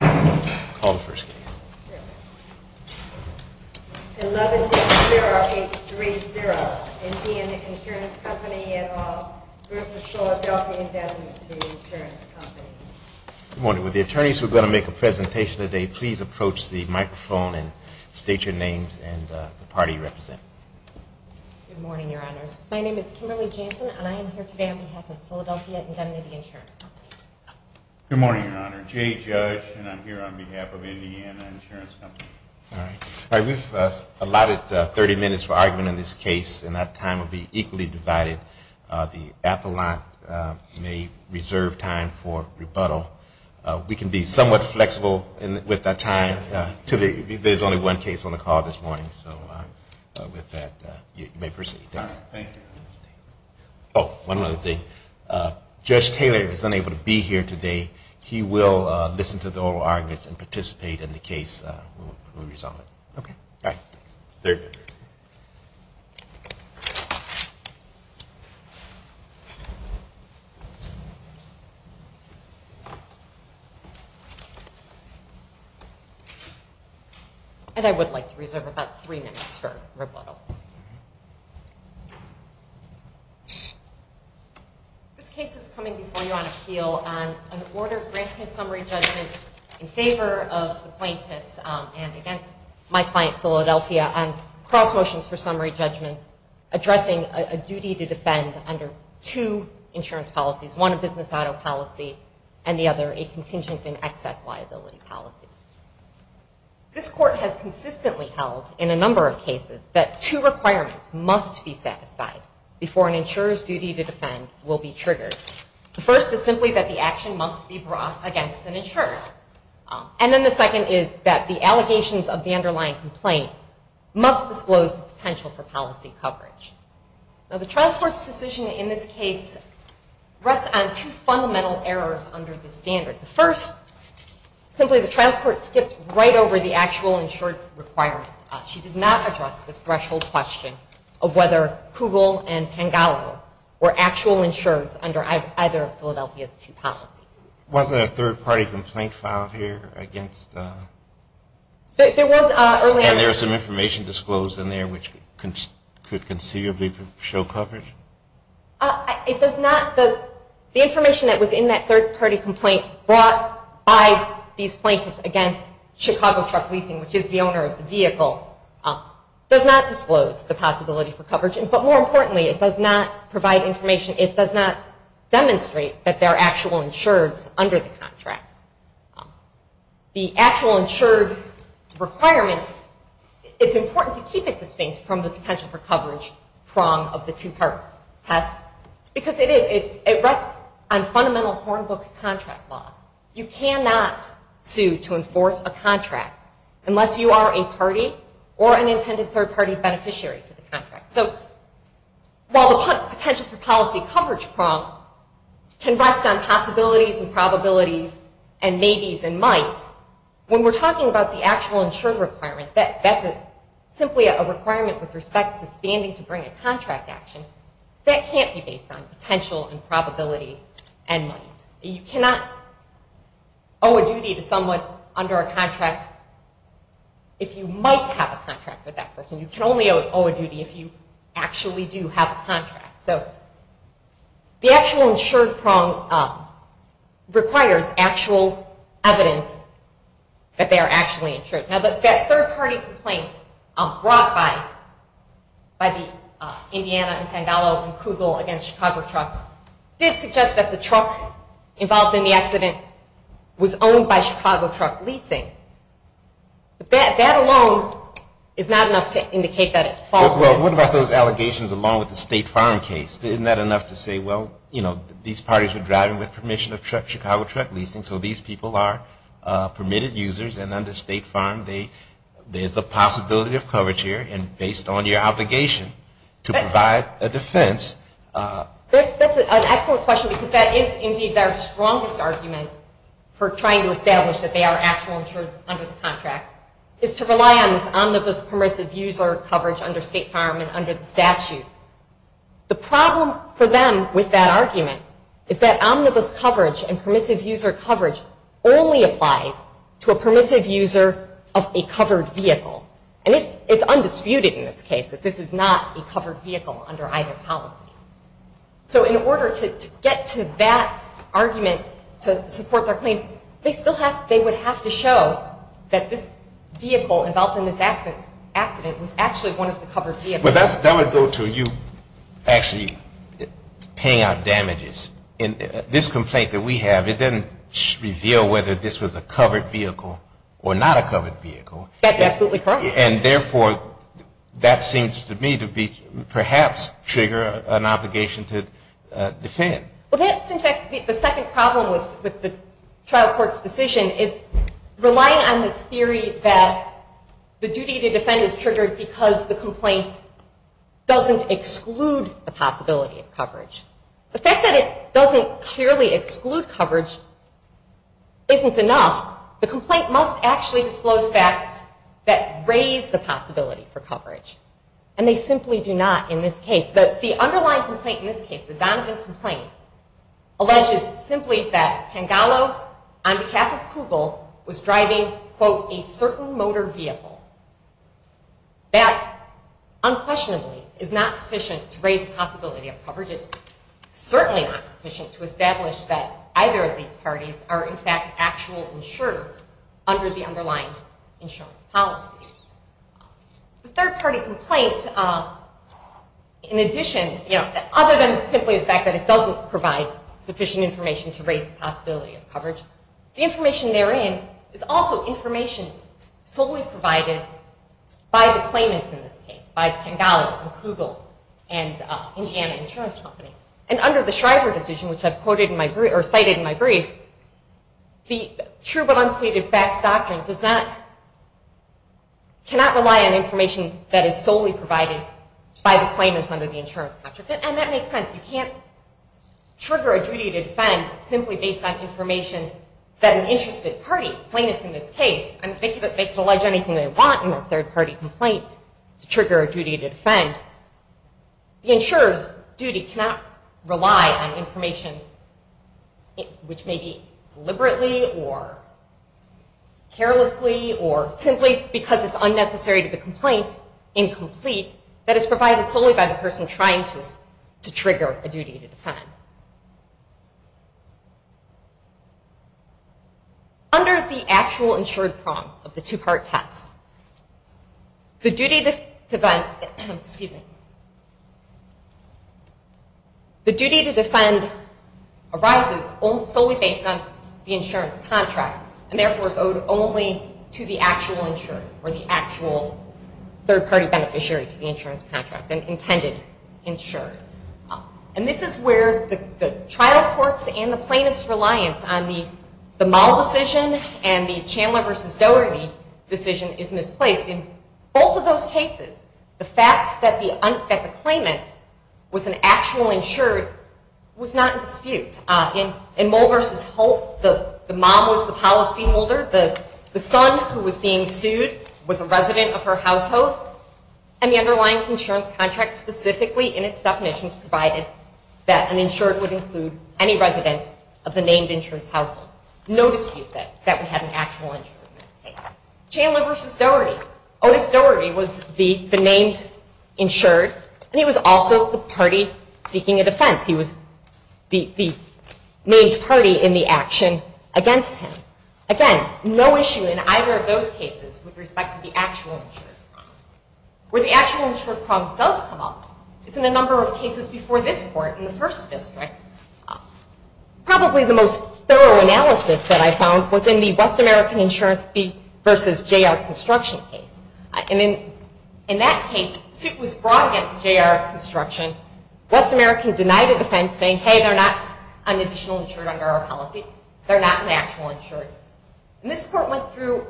Good morning, Your Honors. My name is Kimberly Jansen and I am here today on behalf of the Philadelphia Indemnity Insurance Company. Good morning, Your Honor. Jay Judge and I'm here on behalf of Indiana Insurance Company. All right. We've allotted 30 minutes for argument in this case and that time will be equally divided. The appellant may reserve time for rebuttal. We can be somewhat flexible with that time. There's only one case on the call this morning, so with that, you may proceed. All right. Thank you. Oh, one other thing. Judge Taylor is unable to be here today. He will listen to the oral arguments and participate in the case when we resolve it. Okay. All right. There you go. And I would like to reserve about three minutes for rebuttal. This case is coming before you on appeal on an order granting a summary judgment in favor of the plaintiffs and against my client, Philadelphia, on cross motions for summary judgment addressing a duty to defend under two insurance policies, one a business auto policy and the other a contingent and excess liability policy. This court has consistently held in a number of cases that two requirements must be satisfied before an insurer's duty to defend will be triggered. The first is simply that the action must be brought against an insurer. And then the second is that the allegations of the underlying complaint must disclose the potential for policy coverage. Now, the trial court's decision in this case rests on two fundamental errors under the standard. The first, simply the trial court skipped right over the actual insured requirement. She did not address the threshold question of whether Kugel and Pangallo were actual insured under either of Philadelphia's two policies. There wasn't a third party complaint filed here against? There was earlier. And there was some information disclosed in there which could conceivably show coverage? It does not. The information that was in that third party complaint brought by these plaintiffs against Chicago Truck Leasing, which is the owner of the vehicle, does not disclose the possibility for coverage. But more importantly, it does not provide information, it does not demonstrate that they're actual insureds under the contract. The actual insured requirement, it's important to keep it distinct from the potential for coverage prong of the two-part test. Because it is, it rests on fundamental Hornbook contract law. You cannot sue to enforce a contract unless you are a party or an intended third party beneficiary to the contract. So while the potential for policy coverage prong can rest on possibilities and probabilities and maybes and mights, when we're talking about the actual insured requirement, that's simply a requirement with respect to standing to bring a contract action, that can't be based on potential and probability and might. You cannot owe a duty to someone under a contract if you might have a contract with that person. You can only owe a duty if you actually do have a contract. So the actual insured prong requires actual evidence that they are actually insured. Now that third party complaint brought by the Indiana and Pangallo and Kugel against Chicago Truck did suggest that the truck involved in the accident was owned by Chicago Truck Leasing. But that alone is not enough to indicate that it falls within. Well, what about those allegations along with the State Farm case? Isn't that enough to say, well, you know, these parties were driving with permission of Chicago Truck Leasing, so these people are permitted users and under State Farm, there's a possibility of coverage here and based on your obligation to provide a defense. That's an excellent question because that is indeed their strongest argument for trying to establish that they are actual insureds under the contract, is to rely on this omnibus permissive user coverage under State Farm and under the statute. The problem for them with that argument is that omnibus coverage and permissive user coverage only applies to a permissive user of a covered vehicle. And it's undisputed in this case that this is not a covered vehicle under either policy. So in order to get to that argument to support their claim, they would have to show that this vehicle involved in this accident was actually one of the covered vehicles. But that would go to you actually paying out damages. In this complaint that we have, it doesn't reveal whether this was a covered vehicle or not a covered vehicle. That's absolutely correct. And therefore, that seems to me to perhaps trigger an obligation to defend. Well, that's in fact the second problem with the trial court's decision is relying on this theory that the duty to defend is triggered because the complaint doesn't exclude the possibility of coverage. The fact that it doesn't clearly exclude coverage isn't enough. The complaint must actually disclose facts that raise the possibility for coverage. And they simply do not in this case. The underlying complaint in this case, the Donovan complaint, alleges simply that Pangallo on behalf of Kugel was driving, quote, a certain motor vehicle. That unquestionably is not sufficient to raise the possibility of coverage. It's certainly not sufficient to establish that either of these parties are in fact actual insurers under the underlying insurance policy. The third party complaint, in addition, other than simply the fact that it doesn't provide sufficient information to raise the possibility of coverage, the information therein is also information solely provided by the claimants in this case, by Pangallo and Kugel and Indiana Insurance Company. And under the Shriver decision, which I've cited in my brief, the true but unpleaded facts doctrine does not, cannot rely on information that is solely provided by the claimants under the insurance contract. And that makes sense. You can't trigger a duty to defend simply based on information that an interested party plaintiffs in this case, and they can allege anything they want in a third party complaint to trigger a duty to defend. The insurer's duty cannot rely on information, which may be deliberately or carelessly or simply because it's unnecessary to the complaint, incomplete, that is provided solely by the person trying to trigger a duty to defend. Under the actual insured prong of the two-part test, the duty to defend arises solely based on the insurance contract and therefore is owed only to the actual insured or the actual third party beneficiary to the insurance contract, an intended insured. And this is where the trial courts and the plaintiffs' reliance on the Moll decision and the Chandler v. Doherty decision is misplaced. In both of those cases, the fact that the claimant was an actual insured was not in dispute. In Moll v. Holt, the mom was the policyholder, the son who was being sued was a resident of her household, and the underlying insurance contract specifically in its definitions provided that an insured would include any resident of the named insured's household. No dispute that we had an actual insured in that case. Chandler v. Doherty. Otis Doherty was the named insured, and he was also the party seeking a defense. He was the named party in the action against him. Again, no issue in either of those cases with respect to the actual insured. Where the actual insured problem does come up is in a number of cases before this court in the first district. Probably the most thorough analysis that I found was in the West American Insurance v. J.R. Construction case. In that case, suit was brought against J.R. Construction. West American denied a defense saying, hey, they're not an additional insured under our policy. They're not an actual insured. This court went through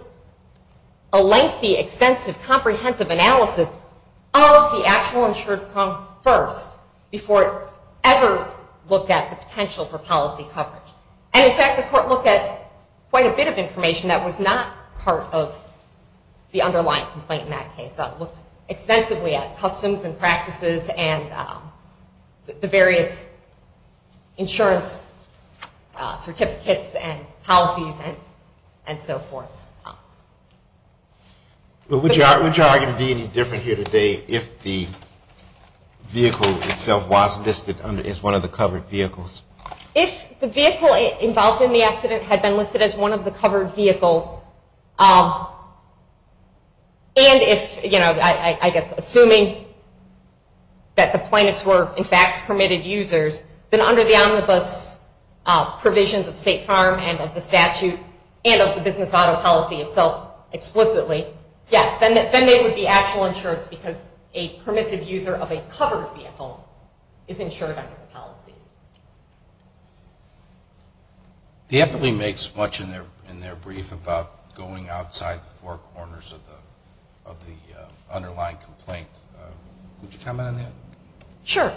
a lengthy, extensive, comprehensive analysis of the actual insured problem first before it ever looked at the potential for policy coverage. In fact, the court looked at quite a bit of information that was not part of the underlying complaint in that case. It looked extensively at customs and practices and the various insurance certificates and policies and so forth. Would your argument be any different here today if the vehicle itself was listed as one of the covered vehicles? If the vehicle involved in the accident had been listed as one of the covered vehicles and if, you know, I guess assuming that the plaintiffs were in fact permitted users, then under the omnibus provisions of State Farm and of the statute and of the business auto policy itself explicitly, yes, then they would be actual insured because a permissive user of a covered vehicle is insured under the policy. So the epitome makes much in their brief about going outside the four corners of the underlying complaint. Would you comment on that? Sure.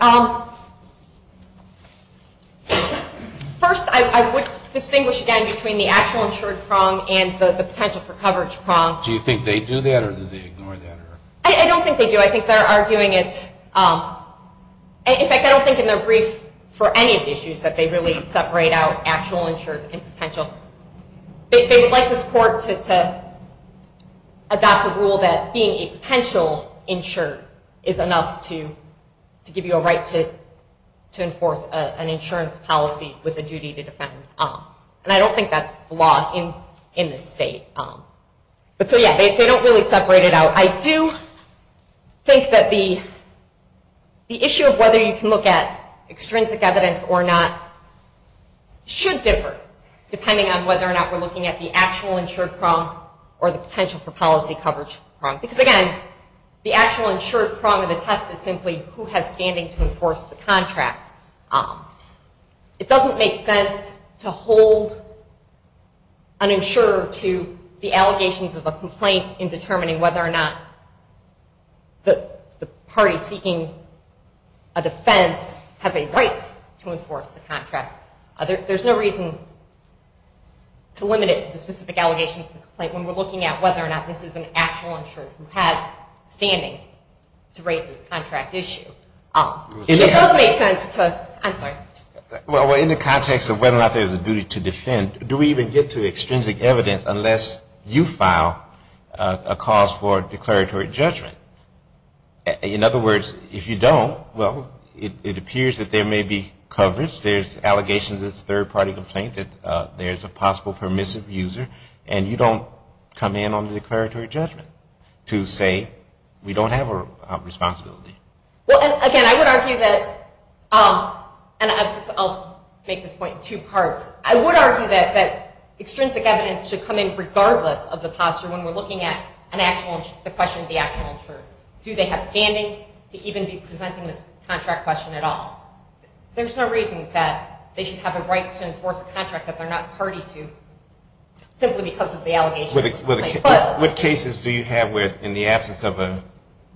First, I would distinguish again between the actual insured prong and the potential for coverage prong. Do you think they do that or do they ignore that? I don't think they do. I think they're arguing it. In fact, I don't think in their brief for any of the issues that they really separate out actual insured and potential. They would like this court to adopt a rule that being a potential insured is enough to give you a right to enforce an insurance policy with a duty to defend. And I don't think that's the law in this state. But so yeah, they don't really separate it out. I do think that the issue of whether you can look at extrinsic evidence or not should differ depending on whether or not we're looking at the actual insured prong or the potential for policy coverage prong. Because again, the actual insured prong of the test is simply who has standing to enforce the contract. It doesn't make sense to hold an insurer to the allegations of a complaint in determining whether or not the party seeking a defense has a right to enforce the contract. There's no reason to limit it to the specific allegations of the complaint when we're looking at whether or not this is an actual insured who has standing to raise this contract issue. So it does make sense to, I'm sorry. Well, in the context of whether or not there's a duty to defend, do we even get to extrinsic evidence unless you file a cause for declaratory judgment? In other words, if you don't, well, it appears that there may be coverage. There's allegations that it's a third-party complaint, that there's a possible permissive user, and you don't come in on the declaratory judgment to say we don't have a responsibility. Well, and again, I would argue that, and I'll make this point in two parts. I would argue that extrinsic evidence should come in regardless of the posture when we're looking at the question of the actual insured. Do they have standing to even be presenting this contract question at all? There's no reason that they should have a right to enforce a contract that they're not party to simply because of the allegations of the complaint. What cases do you have where, in the absence of a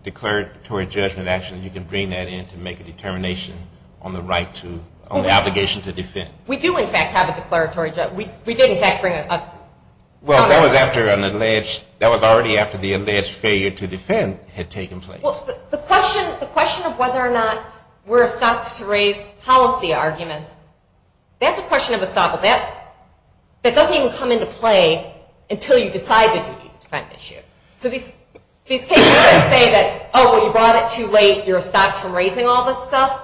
declaratory judgment action, you can bring that in to make a determination on the right to, on the obligation to defend? We do, in fact, have a declaratory judgment. We did, in fact, bring a contract. Well, that was after an alleged, that was already after the alleged failure to defend had taken place. Well, the question of whether or not we're stopped to raise policy arguments, that's a question of estoppel. Now, that doesn't even come into play until you decide the duty to defend issue. So these cases don't say that, oh, well, you brought it too late. You're estopped from raising all this stuff.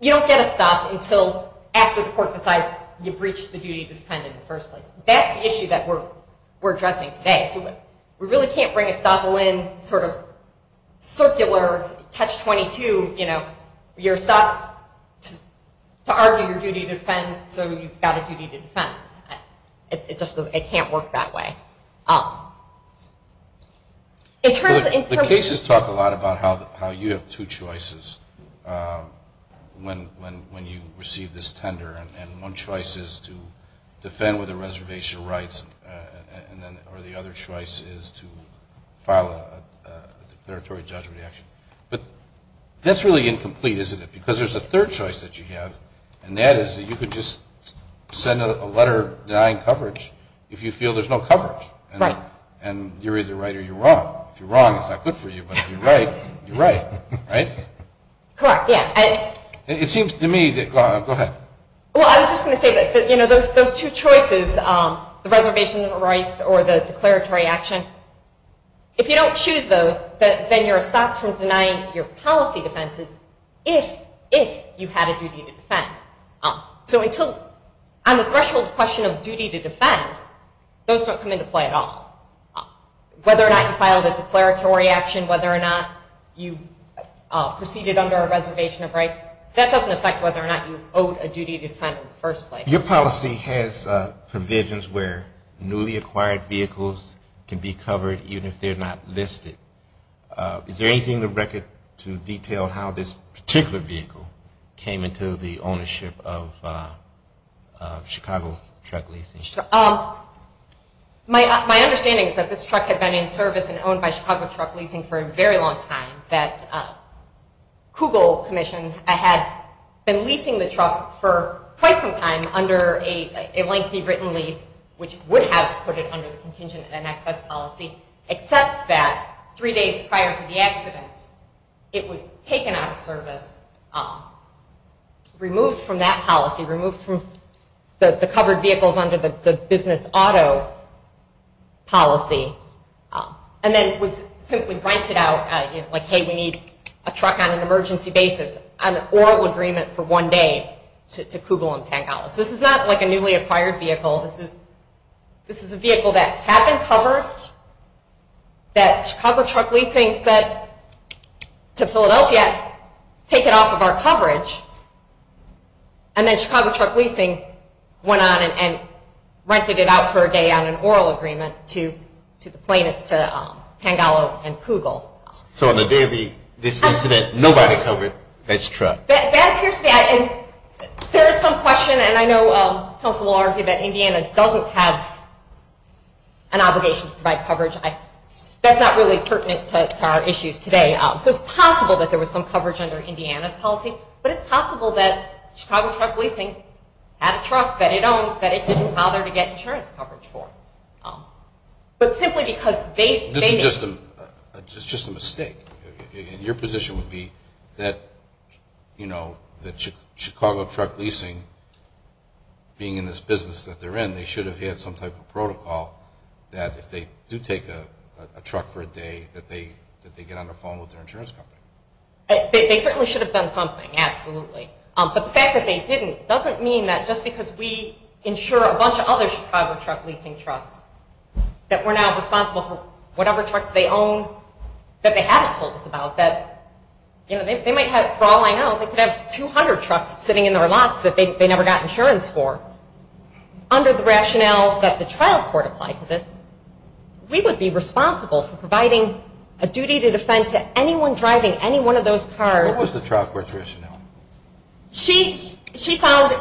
You don't get estopped until after the court decides you've reached the duty to defend in the first place. That's the issue that we're addressing today. So we really can't bring estoppel in sort of circular catch-22, you know, to argue your duty to defend so you've got a duty to defend. It just doesn't, it can't work that way. The cases talk a lot about how you have two choices when you receive this tender, and one choice is to defend with a reservation of rights, or the other choice is to file a declaratory judgment action. But that's really incomplete, isn't it? Because there's a third choice that you have, and that is that you could just send a letter denying coverage if you feel there's no coverage. Right. And you're either right or you're wrong. If you're wrong, it's not good for you, but if you're right, you're right, right? Correct, yeah. It seems to me that, go ahead. Well, I was just going to say that, you know, those two choices, the reservation of rights or the declaratory action, if you don't choose those, then you're stopped from denying your policy defenses if you had a duty to defend. So until, on the threshold question of duty to defend, those don't come into play at all. Whether or not you filed a declaratory action, whether or not you proceeded under a reservation of rights, that doesn't affect whether or not you owed a duty to defend in the first place. Your policy has provisions where newly acquired vehicles can be covered even if they're not listed. Is there anything in the record to detail how this particular vehicle came into the ownership of Chicago Truck Leasing? My understanding is that this truck had been in service and owned by Chicago Truck Leasing for a very long time, that Kugel Commission had been leasing the truck for quite some time under a lengthy written lease, which would have put it under the contingent and access policy, except that three days prior to the accident, it was taken out of service, removed from that policy, removed from the covered vehicles under the business auto policy, and then was simply rented out, like, hey, we need a truck on an emergency basis, on an oral agreement for one day to Kugel and Pangolos. This is not like a newly acquired vehicle. This is a vehicle that had been covered, that Chicago Truck Leasing said to Philadelphia, take it off of our coverage, and then Chicago Truck Leasing went on and rented it out for a day on an oral agreement to the plaintiffs, to Pangolo and Kugel. So on the day of this incident, nobody covered this truck? That appears to be, and there is some question, and I know counsel will argue that Indiana doesn't have an obligation to provide coverage. That's not really pertinent to our issues today. So it's possible that there was some coverage under Indiana's policy, but it's possible that Chicago Truck Leasing had a truck that it owned that it didn't bother to get insurance coverage for. But simply because they made it. This is just a mistake, and your position would be that, you know, that Chicago Truck Leasing, being in this business that they're in, they should have had some type of protocol that if they do take a truck for a day, that they get on the phone with their insurance company. They certainly should have done something, absolutely. But the fact that they didn't doesn't mean that just because we insure a bunch of other Chicago Truck Leasing trucks that we're now responsible for whatever trucks they own that they haven't told us about, that, you know, they might have, for all I know, they could have 200 trucks sitting in their lots that they never got insurance for. Under the rationale that the trial court applied for this, we would be responsible for providing a duty to defend to anyone driving any one of those cars. What was the trial court's rationale? She found,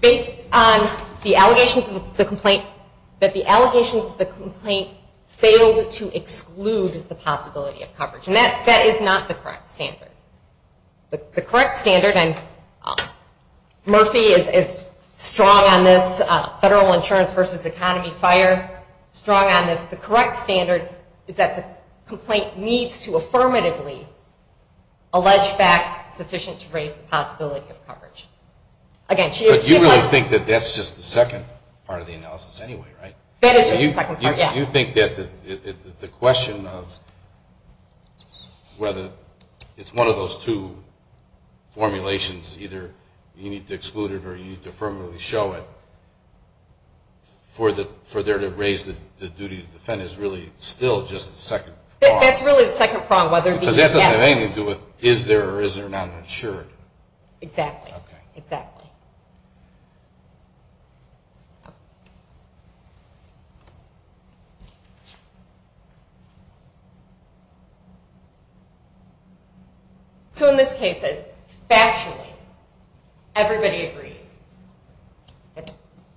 based on the allegations of the complaint, that the allegations of the complaint failed to exclude the possibility of coverage. And that is not the correct standard. The correct standard, and Murphy is strong on this, federal insurance versus economy, FIRE, strong on this, the correct standard is that the complaint needs to affirmatively allege facts sufficient to raise the possibility of coverage. But you really think that that's just the second part of the analysis anyway, right? That is just the second part, yes. You think that the question of whether it's one of those two formulations, either you need to exclude it or you need to affirmatively show it, for there to raise the duty to defend is really still just the second part. That's really the second part. Because that doesn't have anything to do with is there or is there not insurance. Exactly, exactly. So in this case, factually, everybody agrees that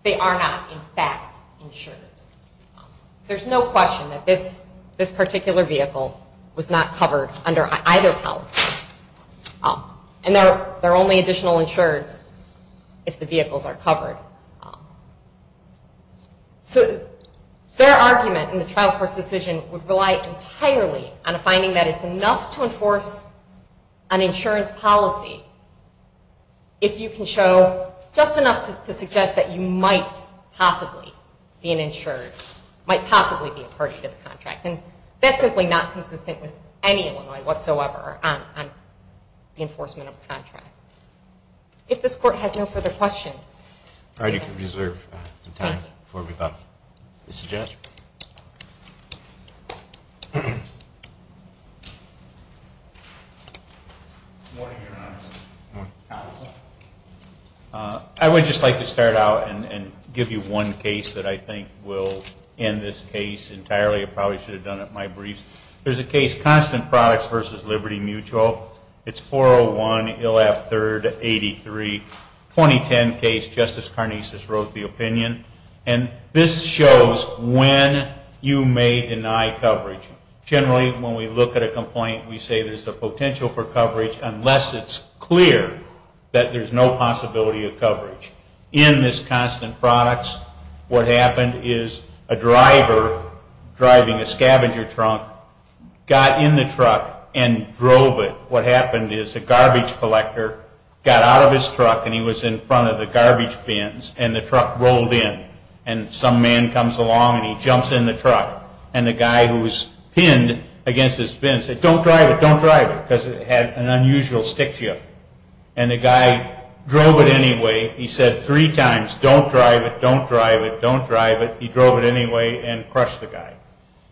they are not, in fact, insurance. There's no question that this particular vehicle was not covered under either policy. And there are only additional insureds if the vehicles are covered. So their argument in the trial court's decision would rely entirely on a finding that it's enough to enforce an insurance policy if you can show just enough to suggest that you might possibly be an insured, might possibly be a party to the contract. And that's simply not consistent with any Illinois whatsoever on the enforcement of a contract. If this Court has no further questions. All right. You can reserve some time before we vote. Mr. Jaskier. I would just like to start out and give you one case that I think will end this case entirely. I probably should have done it in my briefs. There's a case, Constant Products v. Liberty Mutual. It's 401-ILF-3rd-83, 2010 case. Justice Carnesas wrote the opinion. And this shows when you may deny coverage. Generally, when we look at a complaint, we say there's the potential for coverage unless it's clear that there's no possibility of coverage. In this Constant Products, what happened is a driver driving a scavenger trunk got in the truck and drove it. What happened is the garbage collector got out of his truck and he was in front of the garbage bins and the truck rolled in. And some man comes along and he jumps in the truck and the guy who was pinned against his bin said, don't drive it, don't drive it, because it had an unusual stick shift. And the guy drove it anyway. He said three times, don't drive it, don't drive it, don't drive it. He drove it anyway and crushed the guy.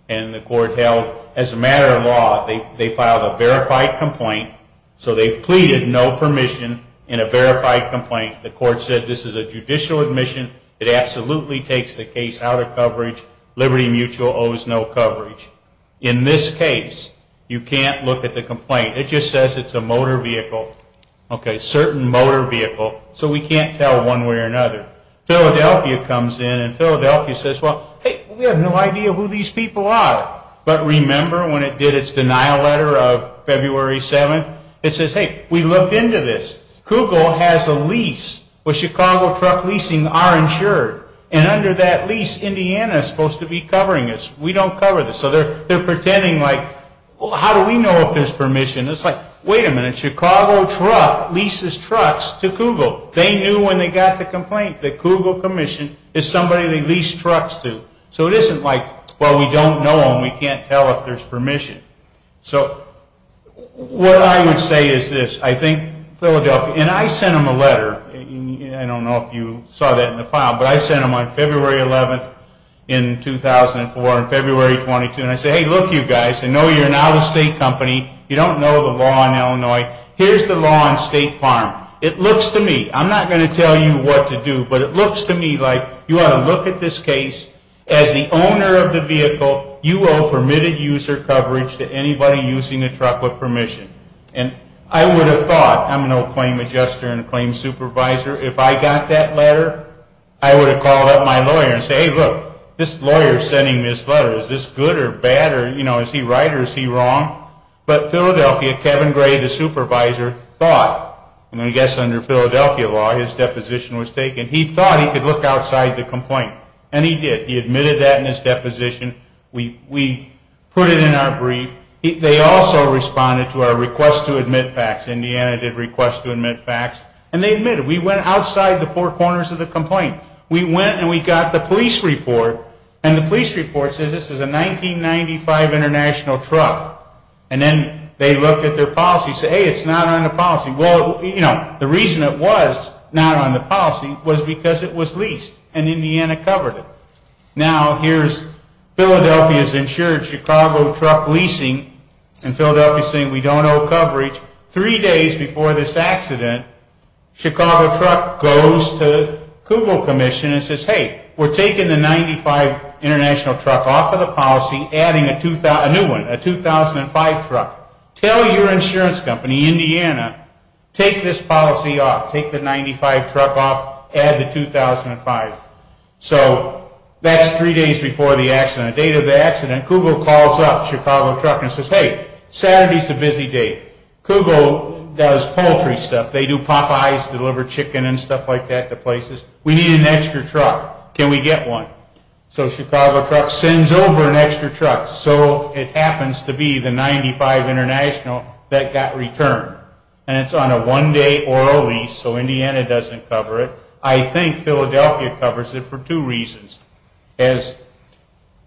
And the court held, as a matter of law, they filed a verified complaint. So they've pleaded no permission in a verified complaint. The court said this is a judicial admission. It absolutely takes the case out of coverage. Liberty Mutual owes no coverage. In this case, you can't look at the complaint. It just says it's a motor vehicle, a certain motor vehicle. So we can't tell one way or another. Philadelphia comes in and Philadelphia says, well, hey, we have no idea who these people are. But remember when it did its denial letter of February 7th, it says, hey, we looked into this. Kugel has a lease where Chicago truck leasing are insured. And under that lease, Indiana is supposed to be covering us. We don't cover this. So they're pretending like, well, how do we know if there's permission? It's like, wait a minute. Chicago truck leases trucks to Kugel. They knew when they got the complaint that Kugel Commission is somebody they lease trucks to. So it isn't like, well, we don't know them. We can't tell if there's permission. So what I would say is this. I think Philadelphia, and I sent them a letter. I don't know if you saw that in the file. But I sent them on February 11th in 2004 and February 22. And I said, hey, look, you guys, I know you're an out-of-state company. You don't know the law in Illinois. Here's the law on State Farm. It looks to me, I'm not going to tell you what to do, but it looks to me like you ought to look at this case. As the owner of the vehicle, you owe permitted user coverage to anybody using a truck with permission. And I would have thought, I'm an old claim adjuster and a claim supervisor, if I got that letter, I would have called up my lawyer and said, hey, look, this lawyer is sending this letter. Is this good or bad? Is he right or is he wrong? But Philadelphia, Kevin Gray, the supervisor, thought, and I guess under Philadelphia law his deposition was taken, he thought he could look outside the complaint. And he did. He admitted that in his deposition. We put it in our brief. They also responded to our request to admit facts. Indiana did request to admit facts. And they admitted. We went outside the four corners of the complaint. We went and we got the police report. And the police report says this is a 1995 international truck. And then they looked at their policy and said, hey, it's not on the policy. Well, you know, the reason it was not on the policy was because it was leased and Indiana covered it. Now here's Philadelphia's insured Chicago truck leasing and Philadelphia saying we don't owe coverage. Three days before this accident, Chicago truck goes to the Kugel Commission and says, hey, we're taking the 1995 international truck off of the policy, adding a new one, a 2005 truck. Tell your insurance company, Indiana, take this policy off, take the 1995 truck off, add the 2005. So that's three days before the accident. The date of the accident, Kugel calls up Chicago truck and says, hey, Saturday's a busy day. Kugel does poultry stuff. They do Popeye's, deliver chicken and stuff like that to places. We need an extra truck. Can we get one? So Chicago truck sends over an extra truck. So it happens to be the 1995 international that got returned. And it's on a one-day oral lease, so Indiana doesn't cover it. I think Philadelphia covers it for two reasons. As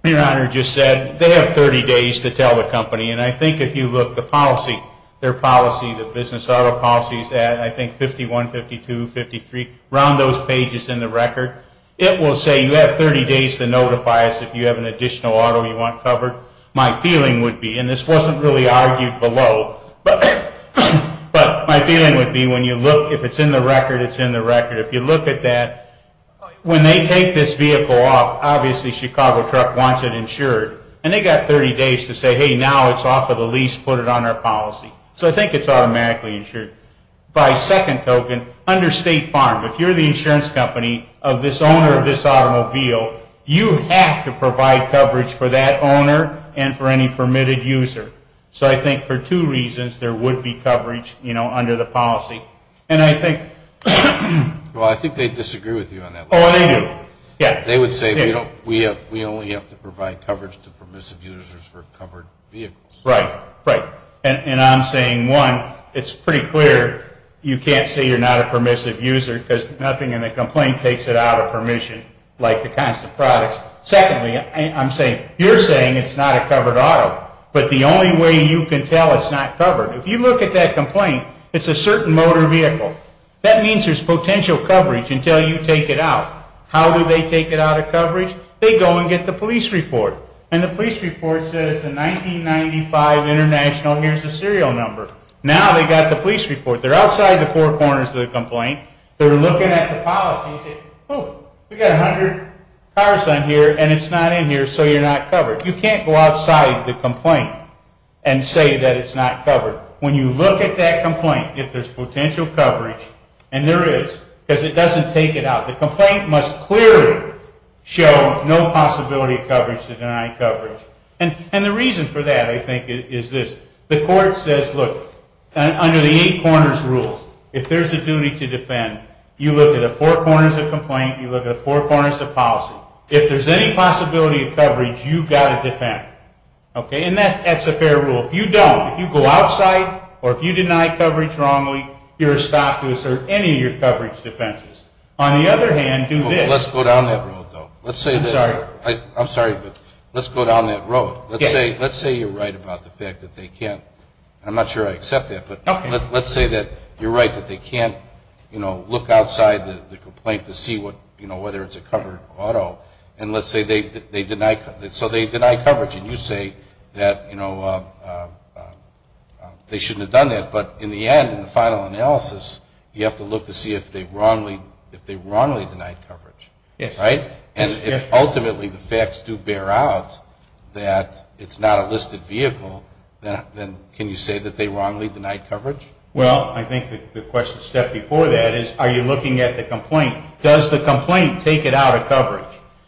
your Honor just said, they have 30 days to tell the company. And I think if you look at the policy, their policy, the business auto policy, I think 51, 52, 53, around those pages in the record, it will say you have 30 days to notify us if you have an additional auto you want covered. My feeling would be, and this wasn't really argued below, but my feeling would be when you look, if it's in the record, it's in the record. If you look at that, when they take this vehicle off, obviously Chicago truck wants it insured. And they've got 30 days to say, hey, now it's off of the lease, put it on our policy. So I think it's automatically insured. By second token, under State Farm, if you're the insurance company of this owner of this automobile, you have to provide coverage for that owner and for any permitted user. So I think for two reasons there would be coverage, you know, under the policy. And I think they disagree with you on that. Oh, they do. They would say we only have to provide coverage to permissive users for covered vehicles. Right, right. And I'm saying, one, it's pretty clear you can't say you're not a permissive user because nothing in the complaint takes it out of permission like the kinds of products. Secondly, I'm saying, you're saying it's not a covered auto, but the only way you can tell it's not covered, if you look at that complaint, it's a certain motor vehicle. That means there's potential coverage until you take it out. How do they take it out of coverage? They go and get the police report. And the police report says it's a 1995 International. Here's the serial number. Now they've got the police report. They're outside the four corners of the complaint. They're looking at the policy and say, oh, we've got 100 cars on here and it's not in here, so you're not covered. You can't go outside the complaint and say that it's not covered. When you look at that complaint, if there's potential coverage, and there is, because it doesn't take it out. The complaint must clearly show no possibility of coverage to deny coverage. And the reason for that, I think, is this. The court says, look, under the eight corners rule, if there's a duty to defend, you look at the four corners of the complaint, you look at the four corners of policy. If there's any possibility of coverage, you've got to defend. And that's a fair rule. If you don't, if you go outside or if you deny coverage wrongly, you're stopped to assert any of your coverage defenses. On the other hand, do this. Let's go down that road, though. I'm sorry. I'm sorry, but let's go down that road. Let's say you're right about the fact that they can't. I'm not sure I accept that, but let's say that you're right, that they can't look outside the complaint to see whether it's a covered auto. And let's say they deny coverage, and you say that they shouldn't have done that. But in the end, in the final analysis, you have to look to see if they wrongly denied coverage. Right? And if ultimately the facts do bear out that it's not a listed vehicle, then can you say that they wrongly denied coverage? Well, I think the question step before that is, are you looking at the complaint? Does the complaint take it out of coverage?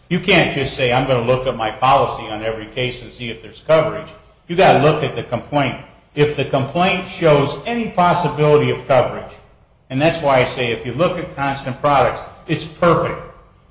You can't just say, I'm going to look at my policy on every case and see if there's coverage. You've got to look at the complaint. If the complaint shows any possibility of coverage, and that's why I say if you look at constant products, it's perfect.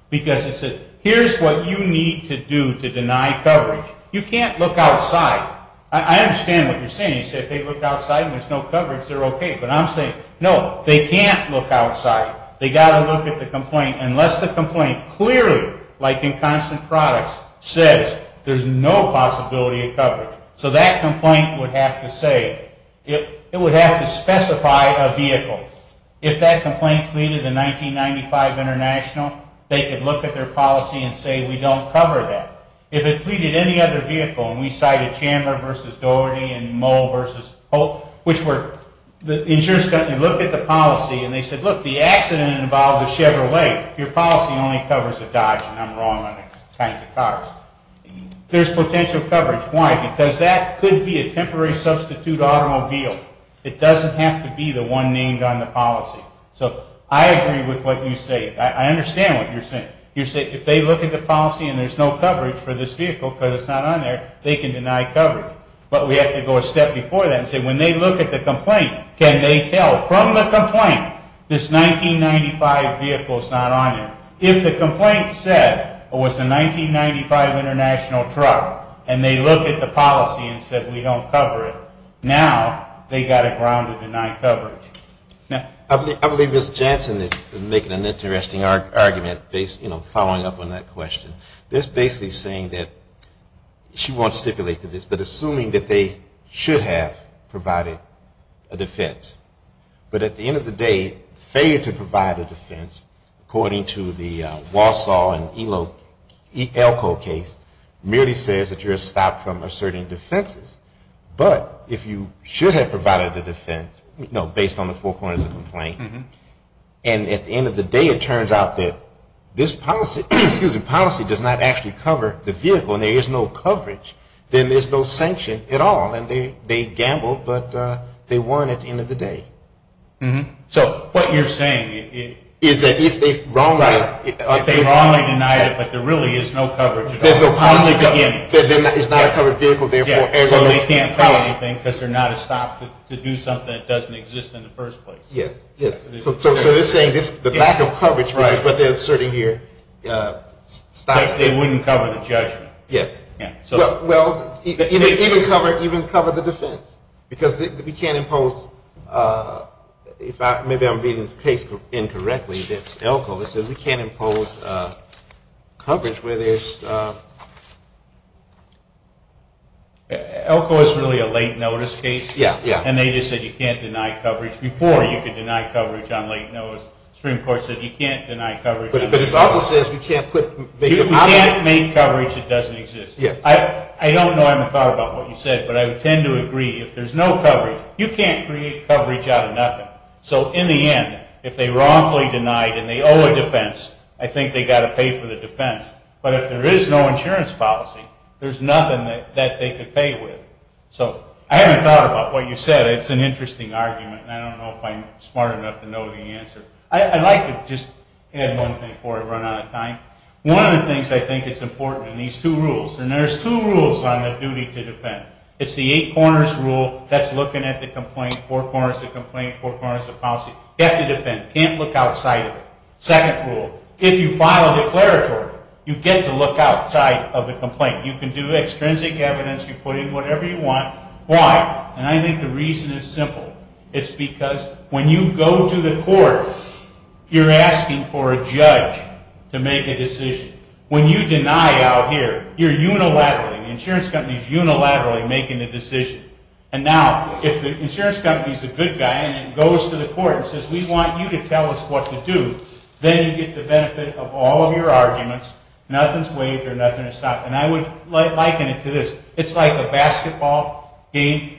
Because it says, here's what you need to do to deny coverage. You can't look outside. I understand what you're saying. You say, if they look outside and there's no coverage, they're okay. But I'm saying, no, they can't look outside. They've got to look at the complaint unless the complaint clearly, like in constant products, says there's no possibility of coverage. So that complaint would have to say, it would have to specify a vehicle. If that complaint pleaded in 1995 international, they could look at their policy and say, we don't cover that. If it pleaded any other vehicle, and we cited Chandler v. Doherty and Moll v. Hope, which were the insurance company, look at the policy, and they said, look, the accident involved a Chevrolet. Your policy only covers a Dodge, and I'm wrong on the kinds of cars. There's potential coverage. That's why, because that could be a temporary substitute automobile. It doesn't have to be the one named on the policy. So I agree with what you say. I understand what you're saying. You say, if they look at the policy and there's no coverage for this vehicle because it's not on there, they can deny coverage. But we have to go a step before that and say, when they look at the complaint, can they tell from the complaint this 1995 vehicle is not on there? If the complaint said it was a 1995 international truck and they looked at the policy and said, we don't cover it, now they've got a ground to deny coverage. I believe Ms. Jansen is making an interesting argument following up on that question. This is basically saying that she won't stipulate to this, but assuming that they should have provided a defense, but at the end of the day, failure to provide a defense, according to the Walsall and Elko case, merely says that you're stopped from asserting defenses. But if you should have provided a defense, based on the four corners of the complaint, and at the end of the day it turns out that this policy does not actually cover the vehicle and there is no coverage, then there's no sanction at all. And they gambled, but they won at the end of the day. So what you're saying is that if they wrongly denied it, but there really is no coverage. There's no policy. It's not a covered vehicle, therefore. So they can't cover anything because they're not a stop to do something that doesn't exist in the first place. Yes. So they're saying the lack of coverage, which is what they're asserting here, stops them. But they wouldn't cover the judgment. Yes. Well, even cover the defense because we can't impose – maybe I'm reading this case incorrectly. It's Elko. It says we can't impose coverage where there's – Elko is really a late notice case. Yes. And they just said you can't deny coverage. Before you could deny coverage on late notice. Supreme Court said you can't deny coverage. But it also says we can't put – You can't make coverage that doesn't exist. Yes. I don't know. I haven't thought about what you said, but I would tend to agree. If there's no coverage, you can't create coverage out of nothing. So in the end, if they wrongfully denied and they owe a defense, I think they've got to pay for the defense. But if there is no insurance policy, there's nothing that they could pay with. So I haven't thought about what you said. It's an interesting argument, and I don't know if I'm smart enough to know the answer. I'd like to just add one thing before I run out of time. One of the things I think is important in these two rules, and there's two rules on the duty to defend. It's the eight corners rule that's looking at the complaint, four corners of the complaint, four corners of policy. You have to defend. You can't look outside of it. Second rule, if you file a declaratory, you get to look outside of the complaint. You can do extrinsic evidence. You put in whatever you want. Why? And I think the reason is simple. It's because when you go to the court, you're asking for a judge to make a decision. When you deny out here, you're unilaterally, the insurance company is unilaterally making the decision. And now if the insurance company is a good guy and then goes to the court and says, we want you to tell us what to do, then you get the benefit of all of your arguments. Nothing is waived or nothing is stopped. And I would liken it to this. It's like a basketball game.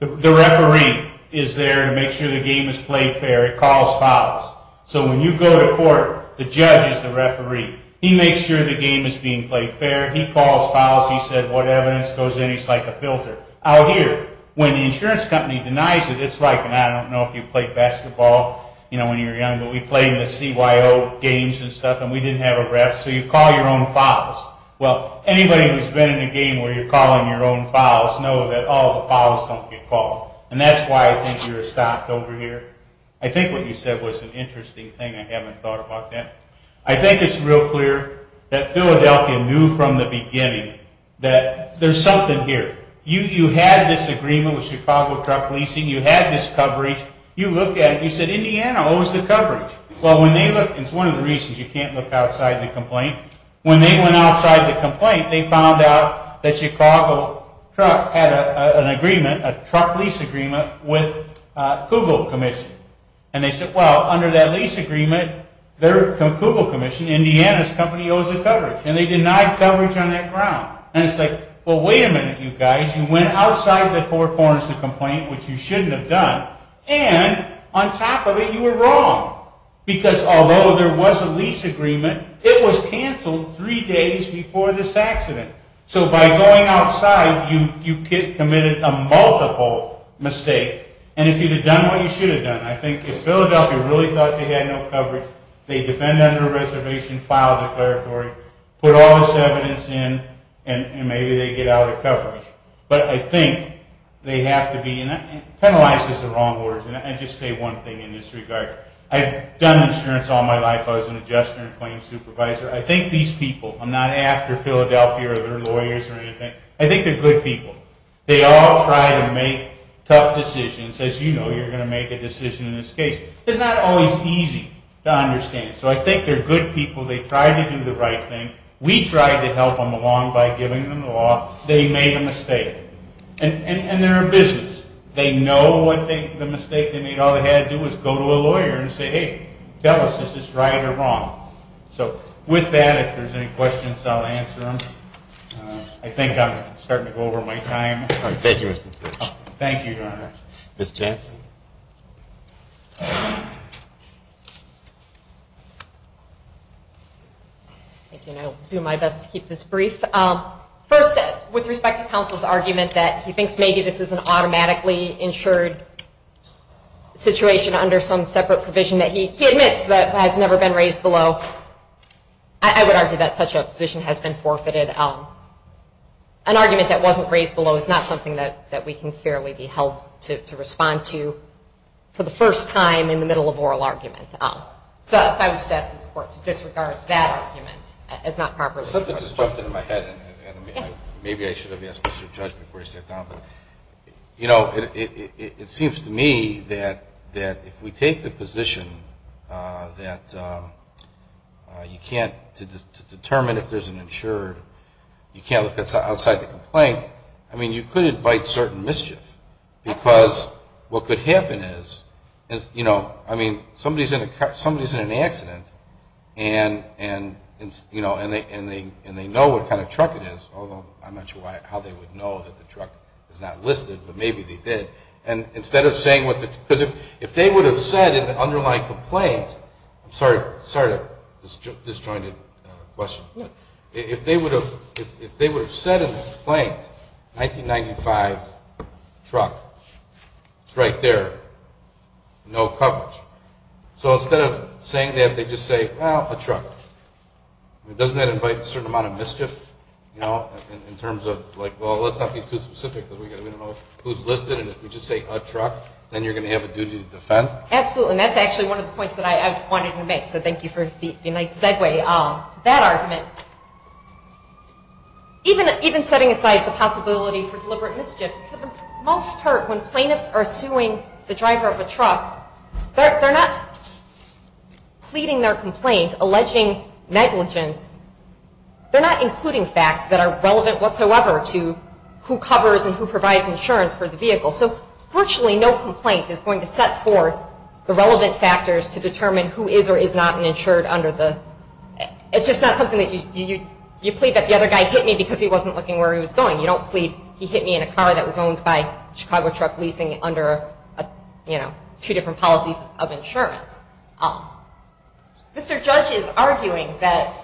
The referee is there to make sure the game is played fair. It calls fouls. So when you go to court, the judge is the referee. He makes sure the game is being played fair. He calls fouls. He says what evidence goes in. He's like a filter. Out here, when the insurance company denies it, it's like, and I don't know if you played basketball when you were young, but we played in the CYO games and stuff, and we didn't have a ref, so you call your own fouls. Well, anybody who's been in a game where you're calling your own fouls know that all the fouls don't get called. And that's why I think you're stopped over here. I think what you said was an interesting thing. I haven't thought about that. I think it's real clear that Philadelphia knew from the beginning that there's something here. You had this agreement with Chicago truck leasing. You had this coverage. You looked at it. You said, Indiana owes the coverage. Well, when they looked, it's one of the reasons you can't look outside the complaint. When they went outside the complaint, they found out that Chicago truck had an agreement, a truck lease agreement, with Kugel Commission. And they said, well, under that lease agreement, Kugel Commission, Indiana's company, owes the coverage. And they denied coverage on that ground. And it's like, well, wait a minute, you guys. You went outside the four corners of the complaint, which you shouldn't have done, and on top of it, you were wrong. Because although there was a lease agreement, it was canceled three days before this accident. So by going outside, you committed a multiple mistake. And if you'd have done what you should have done, I think if Philadelphia really thought they had no coverage, they defend under a reservation file declaratory, put all this evidence in, and maybe they get out of coverage. But I think they have to be, and penalize is the wrong word. And I just say one thing in this regard. I've done insurance all my life. I was an adjuster and claim supervisor. I think these people, I'm not after Philadelphia or their lawyers or anything. I think they're good people. They all try to make tough decisions. As you know, you're going to make a decision in this case. It's not always easy to understand. So I think they're good people. They tried to do the right thing. We tried to help them along by giving them the law. They made a mistake. And they're in business. They know the mistake they made, all they had to do was go to a lawyer and say, hey, tell us, is this right or wrong? So with that, if there's any questions, I'll answer them. I think I'm starting to go over my time. All right. Thank you, Mr. Chairman. Thank you very much. Ms. Jensen. Thank you. I'll do my best to keep this brief. First, with respect to counsel's argument that he thinks maybe this is an automatically insured situation under some separate provision that he admits that has never been raised below, I would argue that such a position has been forfeited. An argument that wasn't raised below is not something that we can fairly be held to respond to for the first time in the middle of oral argument. So I would ask this Court to disregard that argument as not properly. Something just jumped into my head. Maybe I should have asked Mr. Judge before he sat down. You know, it seems to me that if we take the position that you can't determine if there's an insured, you can't look outside the complaint, I mean, you could invite certain mischief because what could happen is, you know, I mean, somebody's in an accident and they know what kind of truck it is, although I'm not sure how they would know that the truck is not listed, but maybe they did. And instead of saying what the – because if they would have said in the underlying complaint – I'm sorry to disjointed question. If they would have said in the complaint, 1995 truck, it's right there, no coverage. So instead of saying that, they just say, well, a truck. Doesn't that invite a certain amount of mischief, you know, in terms of like, well, let's not be too specific. We don't know who's listed, and if we just say a truck, then you're going to have a duty to defend? Absolutely, and that's actually one of the points that I wanted to make, so thank you for the nice segue. That argument, even setting aside the possibility for deliberate mischief, for the most part when plaintiffs are suing the driver of a truck, they're not pleading their complaint, alleging negligence. They're not including facts that are relevant whatsoever to who covers and who provides insurance for the vehicle. So virtually no complaint is going to set forth the relevant factors to determine who is or is not an insured under the, it's just not something that you plead that the other guy hit me because he wasn't looking where he was going. You don't plead he hit me in a car that was owned by a Chicago truck leasing under, you know, two different policies of insurance. Mr. Judge is arguing that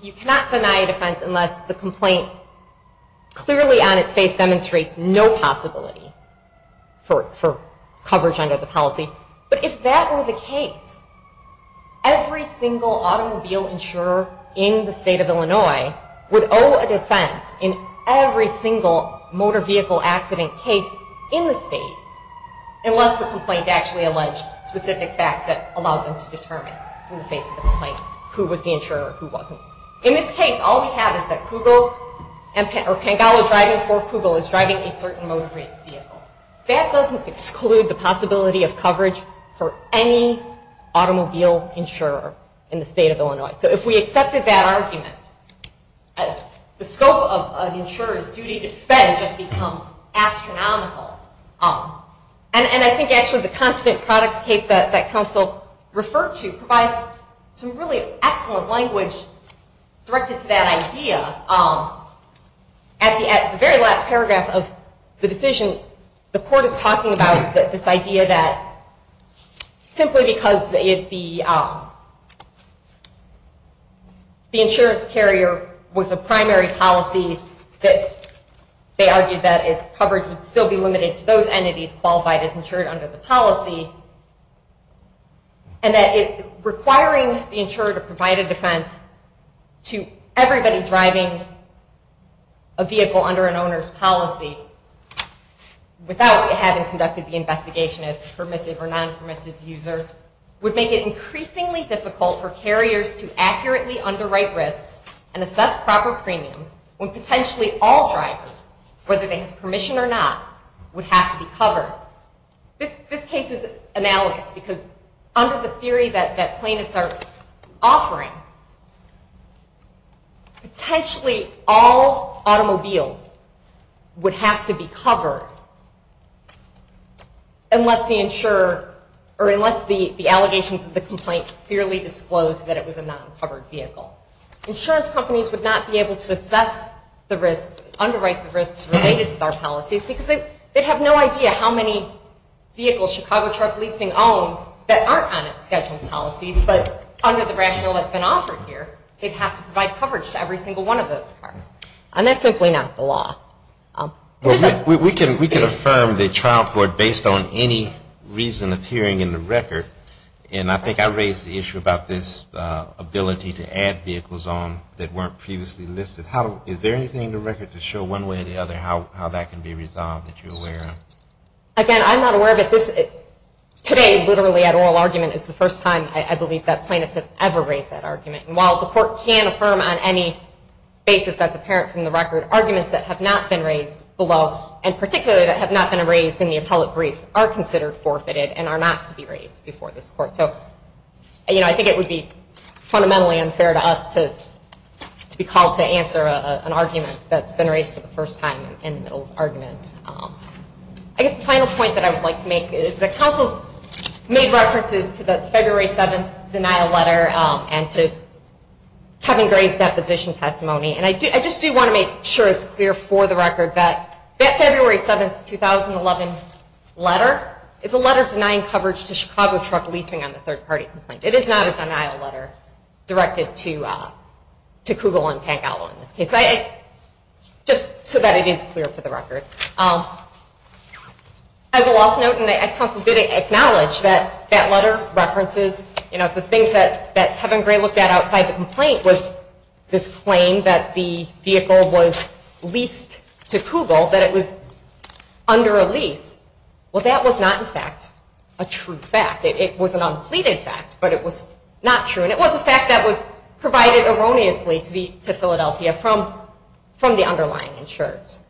you cannot deny a defense unless the complaint clearly on its face Every single automobile insurer in the state of Illinois would owe a defense in every single motor vehicle accident case in the state unless the complaint actually alleged specific facts that allowed them to determine from the face of the complaint who was the insurer and who wasn't. In this case, all we have is that Kugel, or Pangallo driving for Kugel, is driving a certain motor vehicle. That doesn't exclude the possibility of coverage for any automobile insurer in the state of Illinois. So if we accepted that argument, the scope of an insurer's duty to defend just becomes astronomical. And I think actually the constant products case that counsel referred to provides some really excellent language directed to that idea. At the very last paragraph of the decision, the court is talking about this idea that simply because the insurance carrier was a primary policy that they argued that coverage would still be limited to those entities qualified as insured under the policy and that requiring the insurer to provide a defense to everybody driving a vehicle under an owner's policy without having conducted the investigation as a permissive or non-permissive user would make it increasingly difficult for carriers to accurately underwrite risks and assess proper premiums when potentially all drivers, whether they have permission or not, would have to be covered. This case is analogous because under the theory that plaintiffs are offering, potentially all automobiles would have to be covered unless the allegations of the complaint clearly disclose that it was a non-covered vehicle. Insurance companies would not be able to assess the risks, underwrite the risks related to our policies because they'd have no idea how many vehicles Chicago truck leasing owns that aren't on its scheduled policies but under the rationale that's been offered here, they'd have to provide coverage to every single one of those cars. And that's simply not the law. We can affirm the trial court based on any reason of hearing in the record and I think I raised the issue about this ability to add vehicles on that weren't previously listed. Is there anything in the record to show one way or the other how that can be resolved that you're aware of? Again, I'm not aware of it. Today literally at oral argument is the first time I believe that plaintiffs have ever raised that argument. And while the court can affirm on any basis that's apparent from the record, arguments that have not been raised below and particularly that have not been raised in the appellate briefs are considered forfeited and are not to be raised before this court. So I think it would be fundamentally unfair to us to be called to answer an argument that's been raised for the first time in an oral argument. I guess the final point that I would like to make is that counsels made references to the February 7th denial letter and to Kevin Gray's deposition testimony. And I just do want to make sure it's clear for the record that that February 7th, 2011 letter is a letter denying coverage to Chicago truck leasing on the third party complaint. It is not a denial letter directed to Kugel and Pangallo in this case. Just so that it is clear for the record. I will also note and counsel did acknowledge that that letter references the things that Kevin Gray looked at outside the complaint was this claim that the vehicle was leased to Kugel, that it was under a lease. Well, that was not in fact a true fact. It was an unpleaded fact, but it was not true. And it was a fact that was provided erroneously to Philadelphia from the underlying insurers.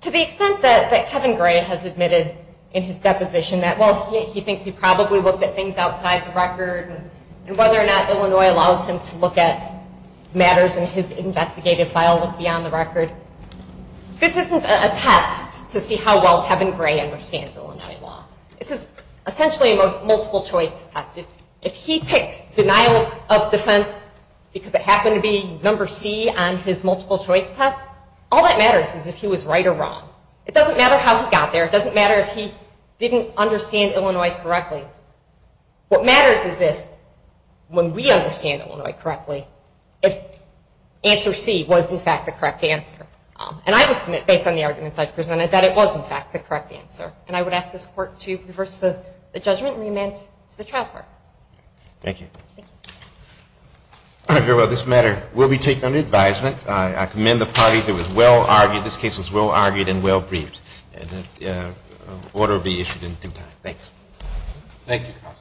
To the extent that Kevin Gray has admitted in his deposition that he thinks he probably looked at things outside the record and whether or not Illinois allows him to look at matters in his investigative file beyond the record, this isn't a test to see how well Kevin Gray understands Illinois law. This is essentially a multiple choice test. If he picked denial of defense because it happened to be number C on his multiple choice test, all that matters is if he was right or wrong. It doesn't matter how he got there. It doesn't matter if he didn't understand Illinois correctly. What matters is if when we understand Illinois correctly, if answer C was in fact the correct answer. And I would submit, based on the arguments I've presented, that it was in fact the correct answer. And I would ask this Court to reverse the judgment and remand to the trial court. Thank you. Thank you. All right. Very well. This matter will be taken under advisement. I commend the party. It was well argued. This case was well argued and well briefed. And the order will be issued in due time. Thanks. Thank you.